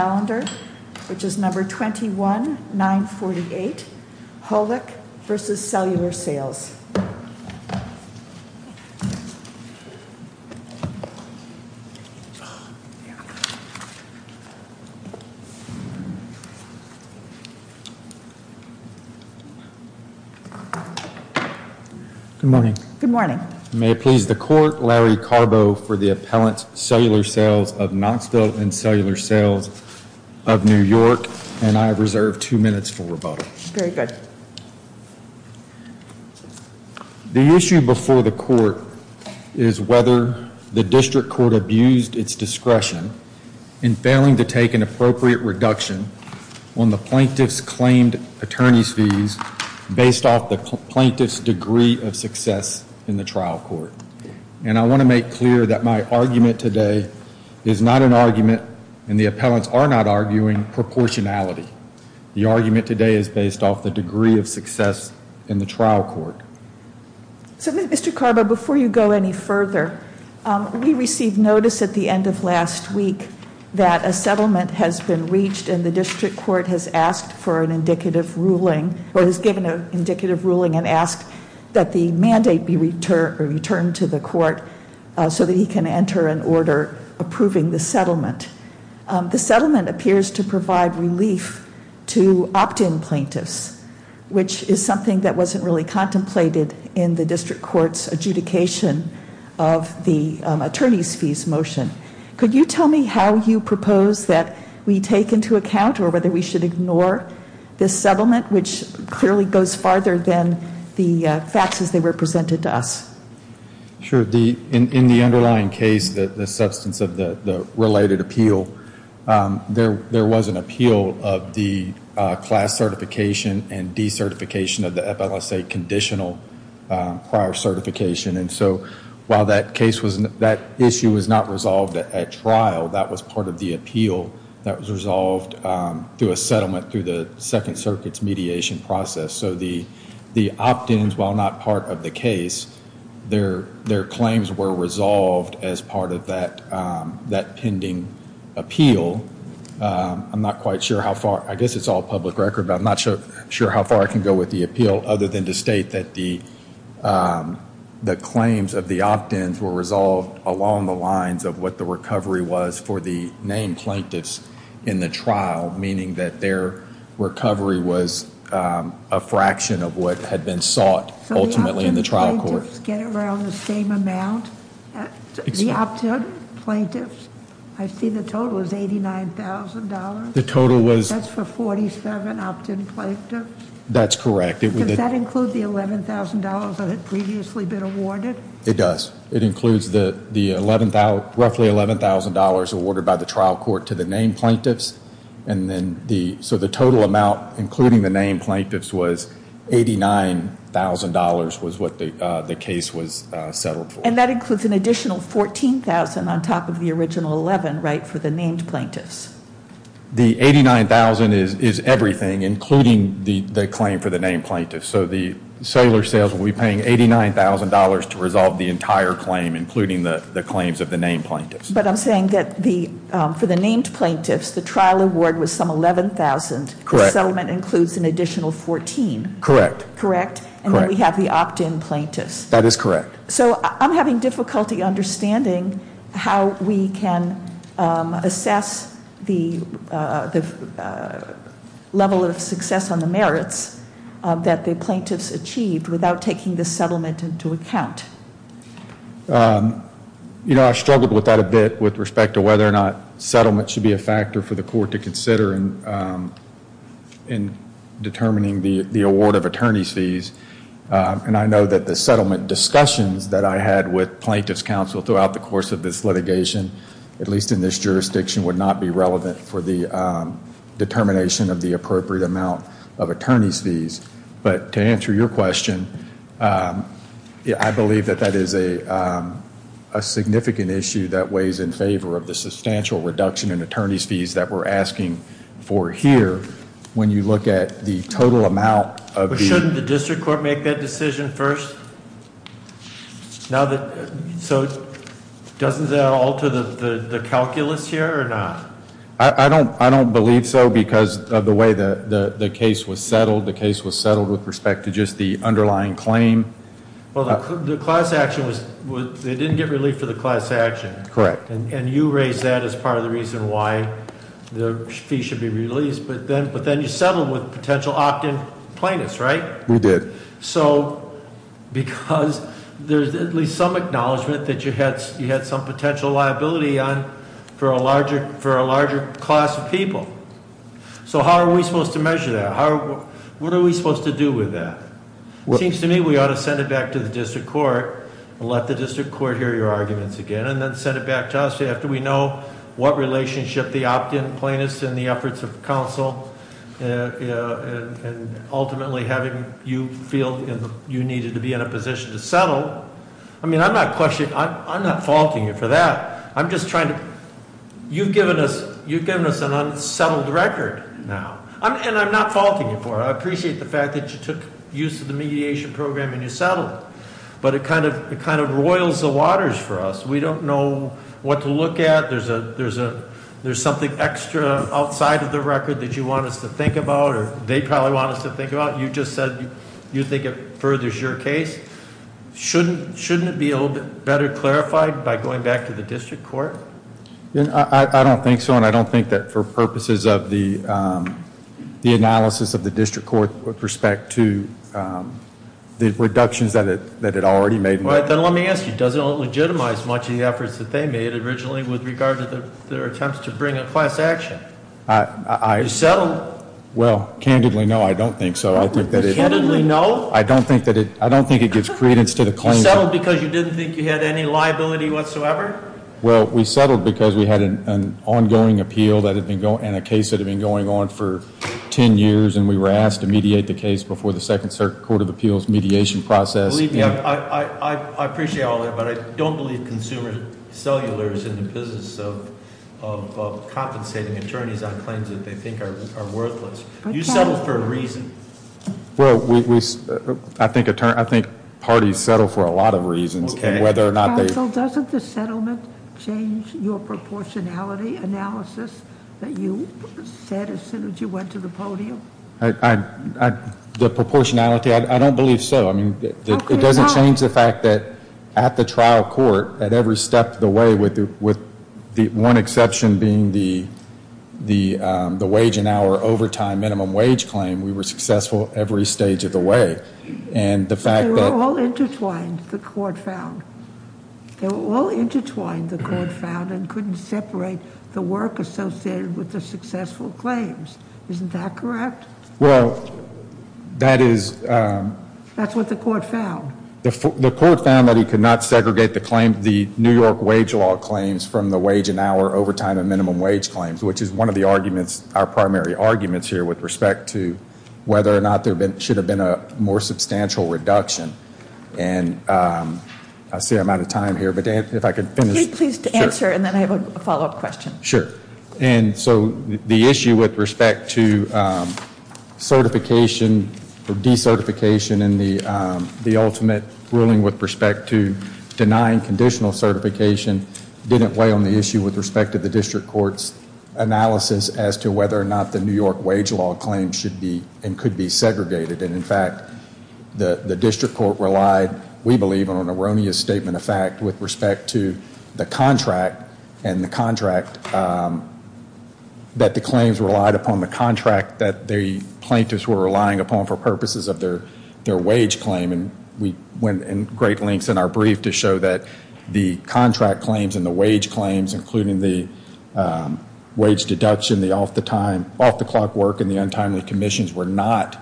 calendar, which is number 21948, Holick v. Cellular Sales. Good morning. Good morning. May it please the court, Larry Carbo for the Appellant's Cellular Sales of Knoxville and Cellular Sales of New York, and I have reserved two minutes for rebuttal. Very good. The issue before the court is whether the district court abused its discretion in failing to take an appropriate reduction on the plaintiff's claimed attorney's fees based off the plaintiff's degree of success in the trial court. And I want to make clear that my argument today is not an argument, and the appellants are not arguing, proportionality. The argument today is based off the degree of success in the trial court. So Mr. Carbo, before you go any further, we received notice at the end of last week that a settlement has been reached and the district court has asked for an indicative ruling, or has given an indicative ruling and asked that the mandate be returned to the court so that he can enter an order approving the settlement. The settlement appears to provide relief to opt-in plaintiffs, which is something that wasn't really contemplated in the district court's adjudication of the attorney's fees motion. Could you tell me how you propose that we take into account or whether we should ignore this settlement, which clearly goes farther than the facts as they were presented to us? Sure. In the underlying case, the substance of the related appeal, there was an appeal of the class certification and decertification of the FLSA conditional prior certification. And so while that issue was not resolved at trial, that was part of the appeal that was resolved through a settlement through the Second Circuit's mediation process. So the opt-ins, while not part of the case, their claims were resolved as part of that pending appeal. I'm not quite sure how far, I guess it's all public record, but I'm not sure how far I can go with the appeal other than to state that the claims of the opt-ins were resolved along the lines of what the recovery was for the named plaintiffs in the trial, meaning that their recovery was a fraction of what had been sought ultimately in the trial court. So the opt-in plaintiffs get around the same amount? The opt-in plaintiffs, I see the total is $89,000. That's for 47 opt-in plaintiffs? That's correct. Does that include the roughly $11,000 awarded by the trial court to the named plaintiffs? So the total amount, including the named plaintiffs, was $89,000 was what the case was settled for. And that includes an additional $14,000 on top of the original $11,000, right, for the named plaintiffs? The $89,000 is everything, including the claim for the named plaintiffs. So the cellular sales will be paying $89,000 to resolve the entire claim, including the claims of the named plaintiffs. But I'm saying that for the named plaintiffs, the trial award was some $11,000. Correct. The settlement includes an additional $14,000. Correct. Correct? And then we have the opt-in plaintiffs. That is correct. So I'm having difficulty understanding how we can assess the level of success on the merits that the plaintiffs achieved without taking the settlement into account. You know, I struggled with that a bit with respect to whether or not settlement should be a factor for the court to consider in determining the award of attorney's fees. And I know that the settlement discussions that I had with you over the course of this litigation, at least in this jurisdiction, would not be relevant for the determination of the appropriate amount of attorney's fees. But to answer your question, I believe that that is a significant issue that weighs in favor of the substantial reduction in attorney's fees that we're asking for here when you look at the total amount of the... Doesn't that alter the calculus here or not? I don't believe so because of the way the case was settled. The case was settled with respect to just the underlying claim. Well, the class action was... They didn't get relief for the class action. Correct. And you raised that as part of the reason why the fees should be released. But then you settled with potential opt-in plaintiffs, right? We did. So because there's at least some acknowledgement that you had some potential liability on for a larger class of people. So how are we supposed to measure that? What are we supposed to do with that? It seems to me we ought to send it back to the district court and let the district court hear your arguments again and then send it back to us after we know what relationship the opt-in plaintiffs and the efforts of counsel and ultimately having you feel you needed to be in a position to settle. I mean, I'm not faulting you for that. I'm just trying to... You've given us an unsettled record now. And I'm not faulting you for it. I appreciate the fact that you took use of the mediation program and you settled it. But it kind of roils the waters for us. We don't know what to look at. There's something extra outside of the record that you want us to think about or they probably want us to think about. You just said you think it shouldn't be a little bit better clarified by going back to the district court? I don't think so. And I don't think that for purposes of the analysis of the district court with respect to the reductions that it already made. Then let me ask you, does it legitimize much of the efforts that they made originally with regard to their attempts to bring a class action? You settled? Well, candidly, no, I don't think so. Candidly, no? I don't think it gives credence to the claim. You settled because you didn't think you had any liability whatsoever? Well, we settled because we had an ongoing appeal and a case that had been going on for ten years and we were asked to mediate the case before the second court of appeals mediation process. Believe me, I appreciate all that, but I don't believe consumer cellulars in the business of compensating attorneys on claims that they think are worthless. You settled for a reason. Well, I think parties settle for a lot of reasons. Counsel, doesn't the settlement change your proportionality analysis that you said as soon as you went to the podium? The proportionality, I don't believe so. It doesn't change the fact that at the trial court, at every step of the way, with the one exception being the wage and hour overtime minimum wage claim, we were successful every stage of the way. And the fact that... But they were all intertwined, the court found. They were all intertwined, the court found, and couldn't separate the work associated with the successful claims. Isn't that correct? Well, that is... That's what the court found? The court found that he could not segregate the New York wage law claims from the wage and hour overtime and with respect to whether or not there should have been a more substantial reduction. And I see I'm out of time here, but if I could finish... Please answer, and then I have a follow-up question. Sure. And so the issue with respect to certification or decertification in the ultimate ruling with respect to denying conditional certification didn't weigh on the issue with respect to the district court's analysis as to whether or not the New York wage law claims should be and could be segregated. And in fact, the district court relied, we believe, on an erroneous statement of fact with respect to the contract and the contract that the claims relied upon, the contract that the plaintiffs were relying upon for purposes of their wage claim. And we went in great lengths in our brief to show that the contract claims and the wage claims, including the wage deduction, the off-the-clock work and the untimely commissions, were not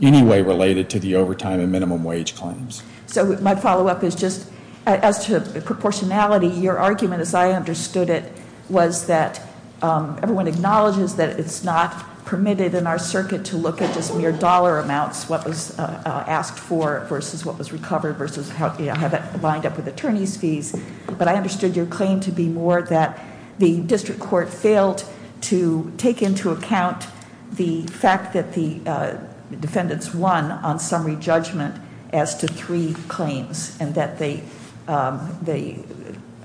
any way related to the overtime and minimum wage claims. So my follow-up is just, as to proportionality, your argument as I understood it was that everyone acknowledges that it's not permitted in our circuit to look at just mere dollar amounts, what was asked for versus what was recovered versus how that lined up with attorney's fees. But I understood your claim to be more that the district court failed to take into account the fact that the defendants won on summary judgment as to three claims and that the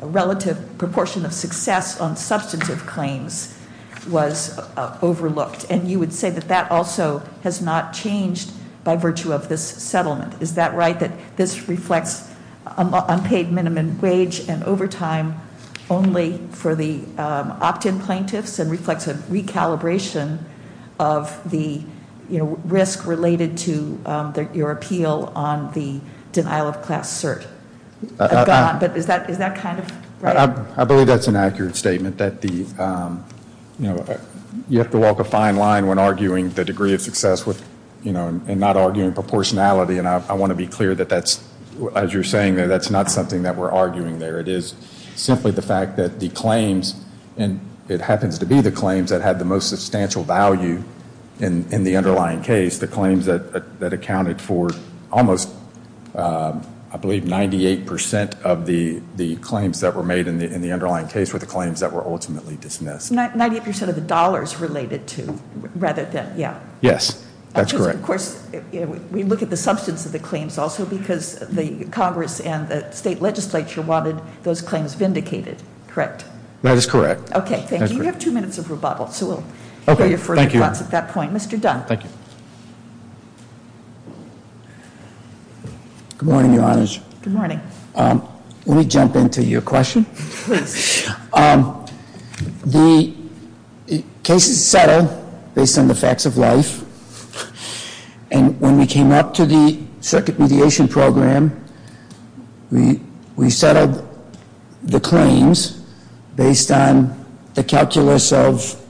relative proportion of success on substantive claims was overlooked. And you would say that that also has not changed by virtue of this settlement. Is that right, that this reflects unpaid minimum wage and overtime only for the opt-in plaintiffs and reflects a recalibration of the, you know, risk related to your appeal on the denial of class cert? But is that kind of right? I believe that's an accurate statement that the, you know, you have to walk a fine line when arguing the degree of success with, you know, I want to be clear that that's, as you're saying, that's not something that we're arguing there. It is simply the fact that the claims, and it happens to be the claims that had the most substantial value in the underlying case, the claims that accounted for almost, I believe, 98% of the claims that were made in the underlying case were the claims that were ultimately dismissed. 98% of the dollars related to, rather than, yeah. Yes, that's correct. Of course, we look at the substance of the claims also because the Congress and the state legislature wanted those claims vindicated, correct? That is correct. Okay, thank you. You have two minutes of rebuttal, so we'll hear your further thoughts at that point. Mr. Dunn. Thank you. Good morning, Your Honors. Good morning. Let me jump into your question. And when we came up to the circuit mediation program, we settled the claims based on the calculus of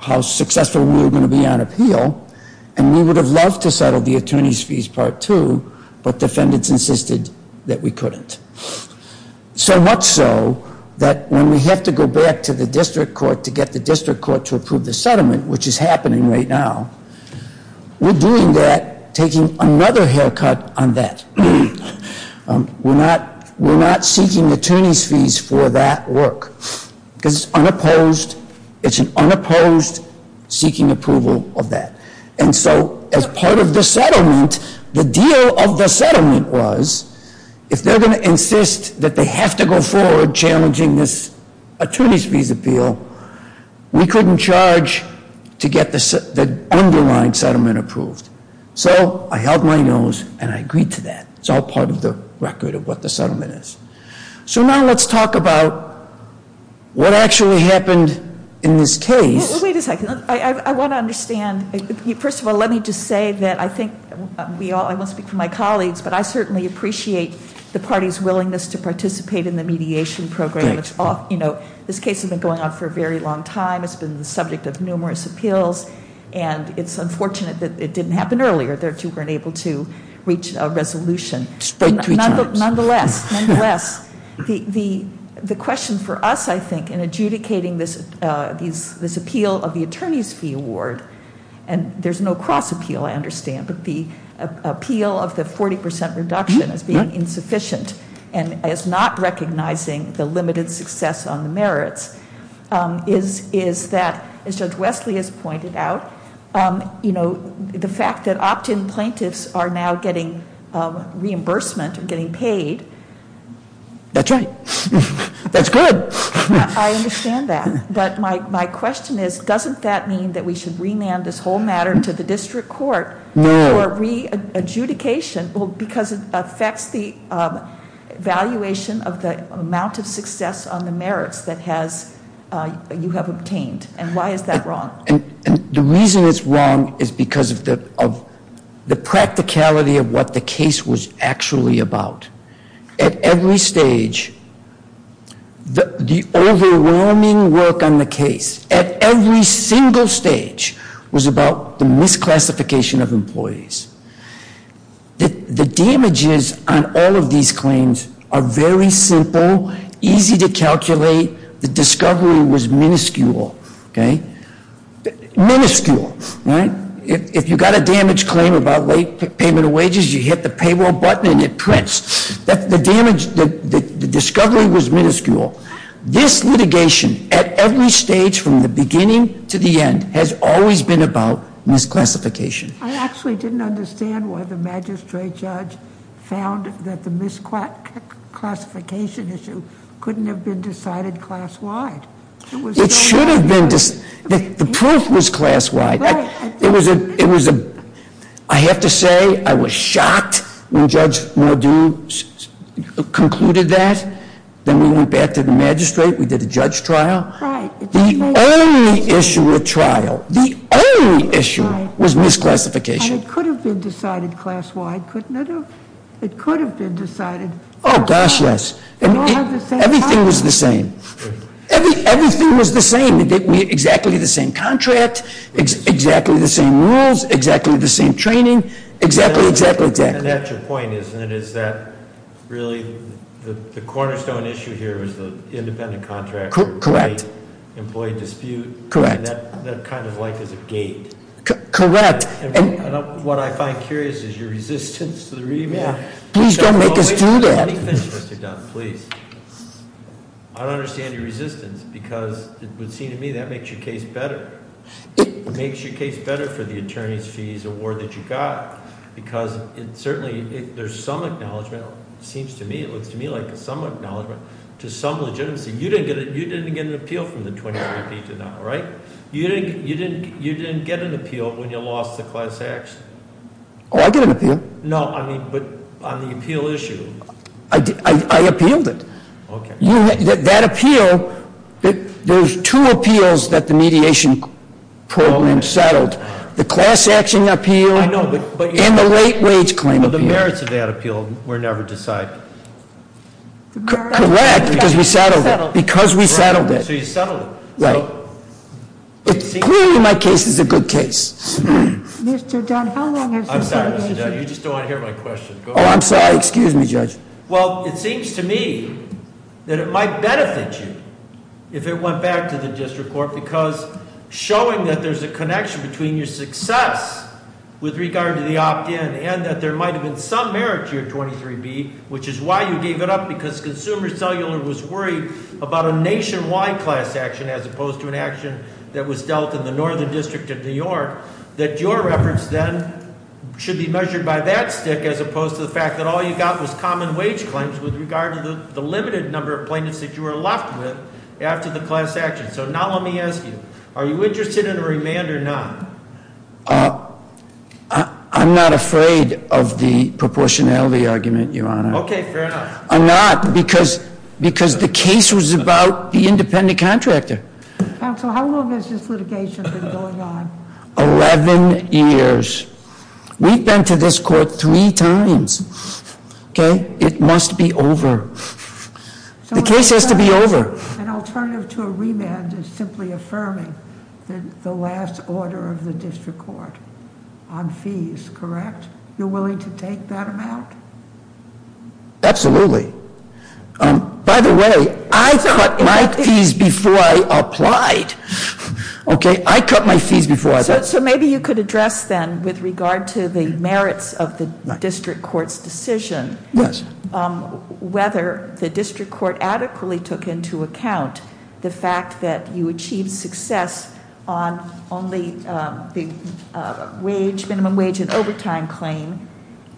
how successful we were going to be on appeal, and we would have loved to settle the attorney's fees part two, but defendants insisted that we couldn't. So much so that when we have to go back to the district court to get the district court to approve the settlement, which is happening right now, we're doing that, taking another haircut on that. We're not seeking attorney's fees for that work because it's unopposed, it's an unopposed seeking approval of that. And so, as part of the settlement, the deal of the settlement was, if they're going to insist that they have to go forward challenging this attorney's fees appeal, we couldn't charge to get the underlying settlement approved. So I held my nose and I agreed to that. It's all part of the record of what the settlement is. So now let's talk about what actually happened in this case. Wait a second. I want to understand, first of all, let me just say that I think we all, I won't speak for my colleagues, but I certainly appreciate the party's willingness to participate in the mediation program. This case has been going on for a very long time, it's been the subject of numerous appeals, and it's unfortunate that it didn't happen earlier, that you weren't able to reach a resolution. Spread three times. Nonetheless, the question for us, I think, in adjudicating this appeal of the attorney's fee award, and there's no cross appeal, I understand, but the appeal of the 40% reduction as being insufficient, and as not recognizing the limited success on the merits, is that, as Judge Wesley has pointed out, the fact that opt-in plaintiffs are now getting reimbursement or getting paid. That's right. That's good. I understand that. But my question is, doesn't that mean that we should remand this whole It affects the valuation of the amount of success on the merits that you have obtained, and why is that wrong? The reason it's wrong is because of the practicality of what the case was actually about. At every stage, the overwhelming work on the case, at every single stage, was about the misclassification of employees. The damages on all of these claims are very simple, easy to calculate. The discovery was minuscule. Minuscule, right? If you got a damaged claim about late payment of wages, you hit the payroll button and it prints. The discovery was minuscule. This litigation, at every stage, from the beginning to the end, has always been about misclassification. I actually didn't understand why the magistrate judge found that the misclassification issue couldn't have been decided class-wide. It should have been. The proof was class-wide. I have to say, I was shocked when Judge Mordew concluded that. Then we went back to the magistrate. We did a judge trial. The only issue with trial, the only issue was misclassification. It could have been decided class-wide, couldn't it have? It could have been decided- Oh, gosh, yes. Everything was the same. Everything was the same. We had exactly the same contract, exactly the same rules, exactly the same training, exactly, exactly, exactly. And that's your point, isn't it? Is that really the cornerstone issue here is the independent contract- Correct. Employee dispute. Correct. That kind of life is a gate. Correct. What I find curious is your resistance to the remand. Please don't make us do that. I don't understand your resistance because it would seem to me that makes your case better. It makes your case better for the attorney's fees award that you got. Because it certainly, there's some acknowledgement, it seems to me, it looks to me like some acknowledgement to some legitimacy. You didn't get an appeal from the 2015 to now, right? You didn't get an appeal when you lost the class action. Oh, I get an appeal. No, I mean, but on the appeal issue. I appealed it. That appeal, there's two appeals that the mediation program settled. The class action appeal- And the late wage claim appeal. The merits of that appeal were never decided. Correct, because we settled it. Because we settled it. So you settled it. Right. Clearly, my case is a good case. Mr. Dunn, how long has your- I'm sorry, Mr. Dunn. You just don't want to hear my question. Oh, I'm sorry. Excuse me, Judge. Well, it seems to me that it might benefit you if it went back to the district court, because showing that there's a connection between your success with regard to the opt-in, and that there might have been some merit to your 23B, which is why you gave it up, because Consumer Cellular was worried about a nationwide class action, as opposed to an action that was dealt in the Northern District of New York, that your reference then should be measured by that stick, as opposed to the fact that all you got was common wage claims with regard to the limited number of plaintiffs that you were left with after the class action. So now let me ask you, are you interested in a remand or not? I'm not afraid of the proportionality argument, Your Honor. Okay, fair enough. I'm not, because the case was about the independent contractor. Counsel, how long has this litigation been going on? 11 years. We've been to this court three times, okay? It must be over. The case has to be over. An alternative to a remand is simply affirming the last order of the district court on fees, correct? You're willing to take that amount? Absolutely. By the way, I cut my fees before I applied, okay? I cut my fees before I applied. So maybe you could address then, with regard to the merits of the district court's decision, whether the district court adequately took into account the fact that you achieved success on only the minimum wage and overtime claim.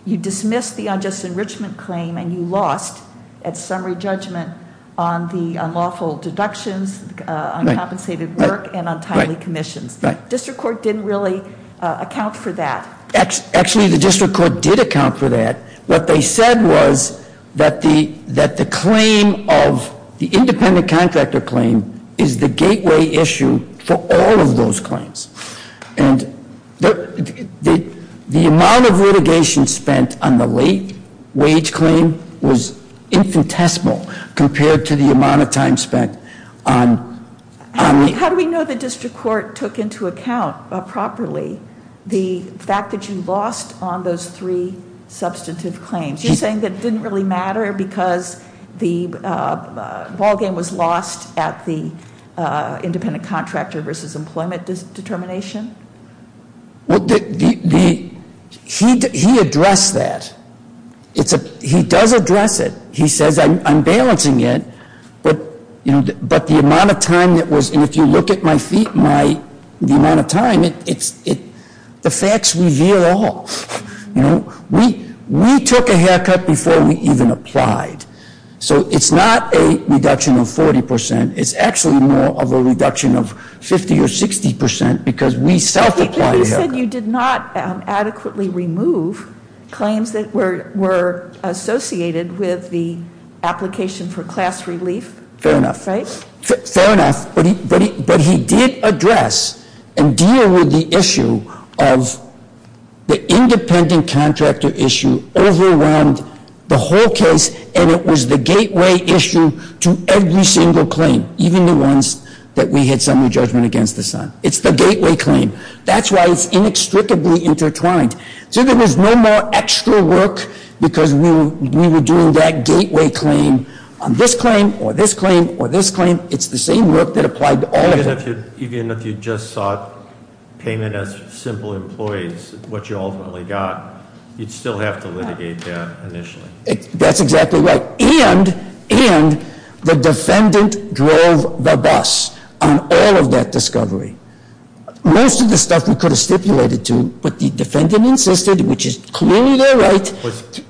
You dismissed the unjust enrichment claim and you lost, at summary judgment, on the unlawful deductions, uncompensated work, and untimely commissions. District court didn't really account for that. Actually, the district court did account for that. What they said was that the claim of the independent contractor claim is the gateway issue for all of those claims. And the amount of litigation spent on the late wage claim was infinitesimal compared to the amount of time spent on- How do we know the district court took into account properly the fact that you lost on those three substantive claims? You're saying that it didn't really matter because the ballgame was lost at the independent contractor versus employment determination? He addressed that. He does address it. He says, I'm balancing it, but the amount of time that was- The facts reveal all. We took a haircut before we even applied. So it's not a reduction of 40 percent. It's actually more of a reduction of 50 or 60 percent because we self-applied- He said you did not adequately remove claims that were associated with the application for class relief. Fair enough. Fair enough, but he did address and deal with the issue of the independent contractor issue overwhelmed the whole case and it was the gateway issue to every single claim, even the ones that we had summary judgment against this time. It's the gateway claim. That's why it's inextricably intertwined. So there was no more extra work because we were doing that gateway claim on this claim, or this claim, or this claim. It's the same work that applied to all of them. Even if you just sought payment as simple employees, what you ultimately got, you'd still have to litigate that initially. That's exactly right, and the defendant drove the bus on all of that discovery. Most of the stuff we could have stipulated to, but the defendant insisted, which is clearly their right.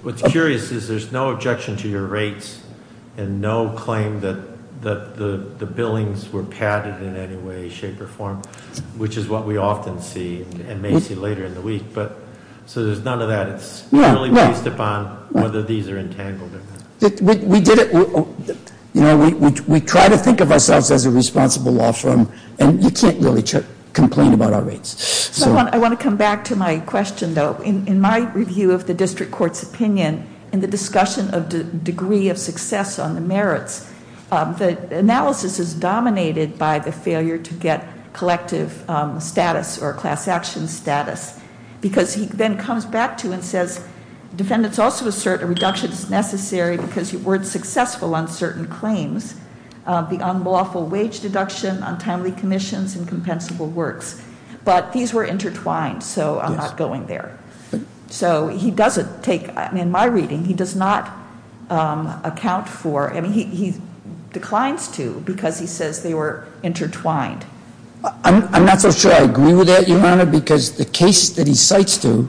What's curious is there's no objection to your rates and no claim that the billings were padded in any way, shape, or form, which is what we often see and may see later in the week. So there's none of that. It's purely based upon whether these are entangled or not. We did it, we try to think of ourselves as a responsible law firm, and you can't really complain about our rates. So I want to come back to my question, though. In my review of the district court's opinion, in the discussion of the degree of success on the merits, the analysis is dominated by the failure to get collective status or class action status, because he then comes back to and says, defendants also assert a reduction is necessary because you weren't successful on certain claims. Beyond lawful wage deduction, untimely commissions, and compensable works. But these were intertwined, so I'm not going there. So he doesn't take, in my reading, he does not account for, I mean, he declines to, because he says they were intertwined. I'm not so sure I agree with that, Your Honor, because the case that he cites to,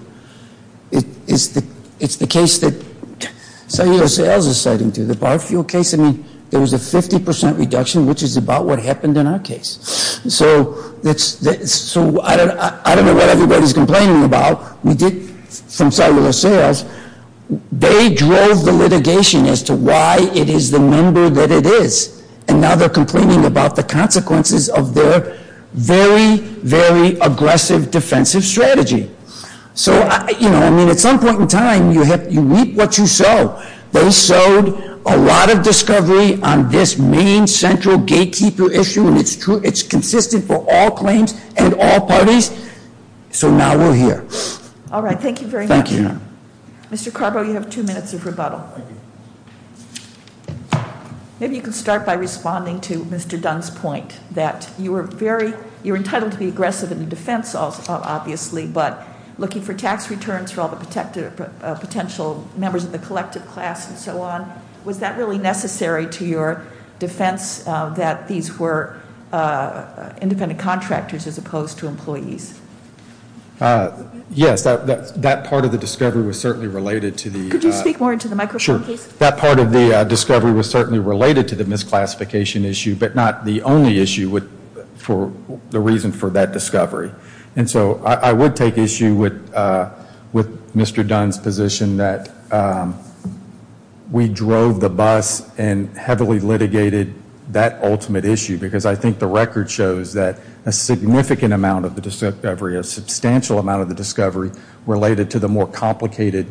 it's the case that San Diego Sales is citing to, the bar fuel case. I mean, there was a 50% reduction, which is about what happened in our case. So I don't know what everybody's complaining about. We did, from cellular sales, they drove the litigation as to why it is the number that it is. And now they're complaining about the consequences of their very, very aggressive defensive strategy. So I mean, at some point in time, you reap what you sow. They sowed a lot of discovery on this main central gatekeeper issue. It's consistent for all claims and all parties. So now we're here. All right, thank you very much. Thank you. Mr. Carbo, you have two minutes of rebuttal. Maybe you can start by responding to Mr. Dunn's point that you're entitled to be aggressive in the defense, obviously. But looking for tax returns for all the potential members of the collective class and so on. Was that really necessary to your defense that these were independent contractors as opposed to employees? Yes, that part of the discovery was certainly related to the- Could you speak more into the microphone, please? That part of the discovery was certainly related to the misclassification issue, but not the only issue for the reason for that discovery. And so I would take issue with Mr. Dunn's position that we drove the bus and heavily litigated that ultimate issue. Because I think the record shows that a significant amount of the discovery, a substantial amount of the discovery related to the more complicated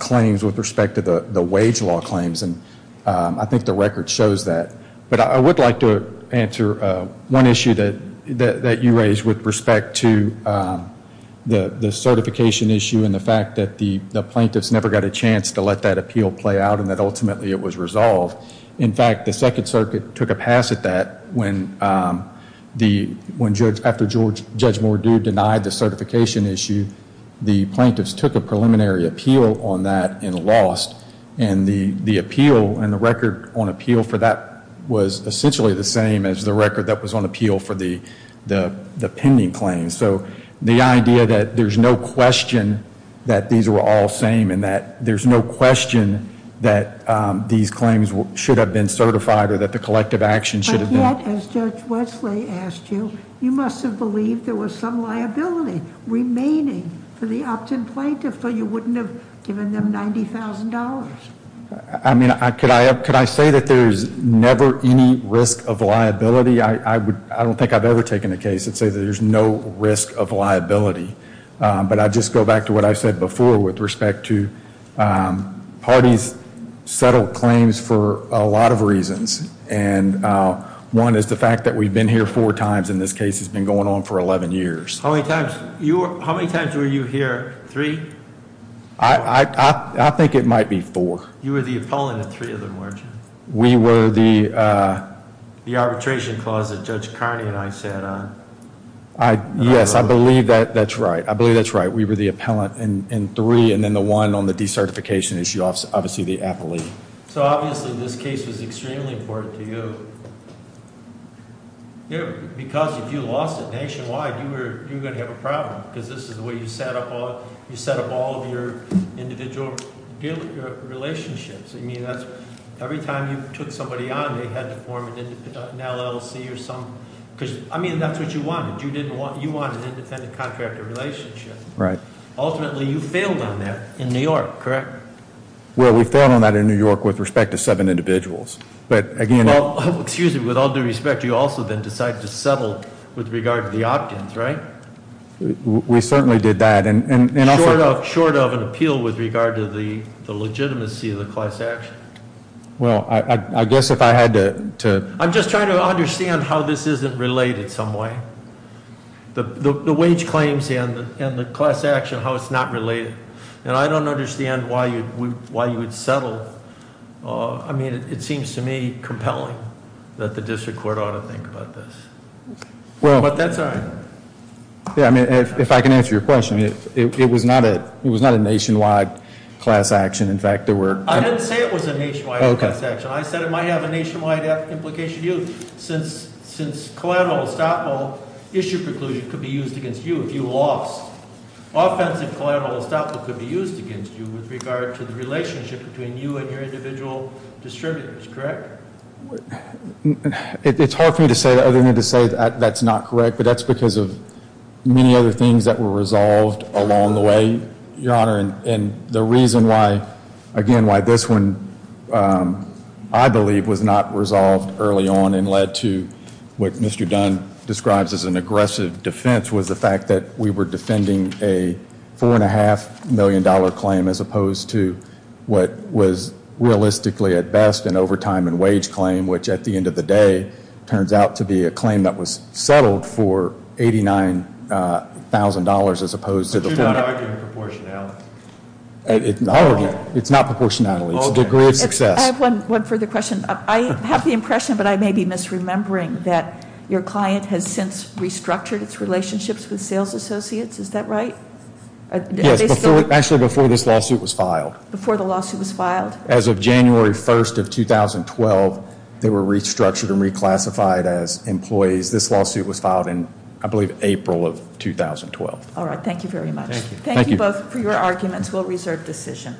claims with respect to the wage law claims. And I think the record shows that. But I would like to answer one issue that you raised with respect to the certification issue and the fact that the plaintiffs never got a chance to let that appeal play out and that ultimately it was resolved. In fact, the Second Circuit took a pass at that when after Judge Mordew denied the certification issue, the plaintiffs took a preliminary appeal on that and lost. And the appeal and the record on appeal for that was essentially the same as the record that was on appeal for the pending claims. And so the idea that there's no question that these were all same and that there's no question that these claims should have been certified or that the collective action should have been. But yet, as Judge Wesley asked you, you must have believed there was some liability remaining for the opt-in plaintiff, but you wouldn't have given them $90,000. I mean, could I say that there's never any risk of liability? I don't think I've ever taken a case that says there's no risk of liability. But I just go back to what I said before with respect to parties settle claims for a lot of reasons. And one is the fact that we've been here four times and this case has been going on for 11 years. How many times were you here? Three? I think it might be four. You were the appellant at three of them, weren't you? We were the- The arbitration clause that Judge Carney and I sat on. Yes, I believe that's right. I believe that's right. We were the appellant in three, and then the one on the decertification issue, obviously the appellee. So obviously this case was extremely important to you because if you lost it nationwide, you were going to have a problem because this is the way you set up all of your individual relationships. I mean, every time you took somebody on, they had to form an LLC or something. because I mean, that's what you wanted. You wanted an independent contractor relationship. Right. Ultimately, you failed on that in New York, correct? Well, we failed on that in New York with respect to seven individuals. But again- Excuse me, with all due respect, you also then decided to settle with regard to the opt-ins, right? We certainly did that, and also- Class action. Well, I guess if I had to- I'm just trying to understand how this isn't related some way. The wage claims and the class action, how it's not related. And I don't understand why you would settle. I mean, it seems to me compelling that the district court ought to think about this. But that's all right. Yeah, I mean, if I can answer your question, it was not a nationwide class action. In fact, there were- I didn't say it was a nationwide class action. I said it might have a nationwide implication to you. Since collateral estoppel issue preclusion could be used against you if you lost, offensive collateral estoppel could be used against you with regard to the relationship between you and your individual distributors, correct? It's hard for me to say that other than to say that that's not correct. But that's because of many other things that were resolved along the way, Your Honor. And the reason why, again, why this one, I believe, was not resolved early on and led to what Mr. Dunn describes as an aggressive defense, was the fact that we were defending a $4.5 million claim as opposed to what was realistically at best an overtime and wage claim, which at the end of the day, turns out to be a claim that was settled for $89,000 as opposed to- I'm not arguing proportionality. I'll argue it's not proportionality. It's a degree of success. I have one further question. I have the impression, but I may be misremembering, that your client has since restructured its relationships with sales associates. Is that right? Yes, actually before this lawsuit was filed. Before the lawsuit was filed? As of January 1st of 2012, they were restructured and reclassified as employees. This lawsuit was filed in, I believe, April of 2012. All right, thank you very much. Thank you both for your arguments. We'll reserve decision.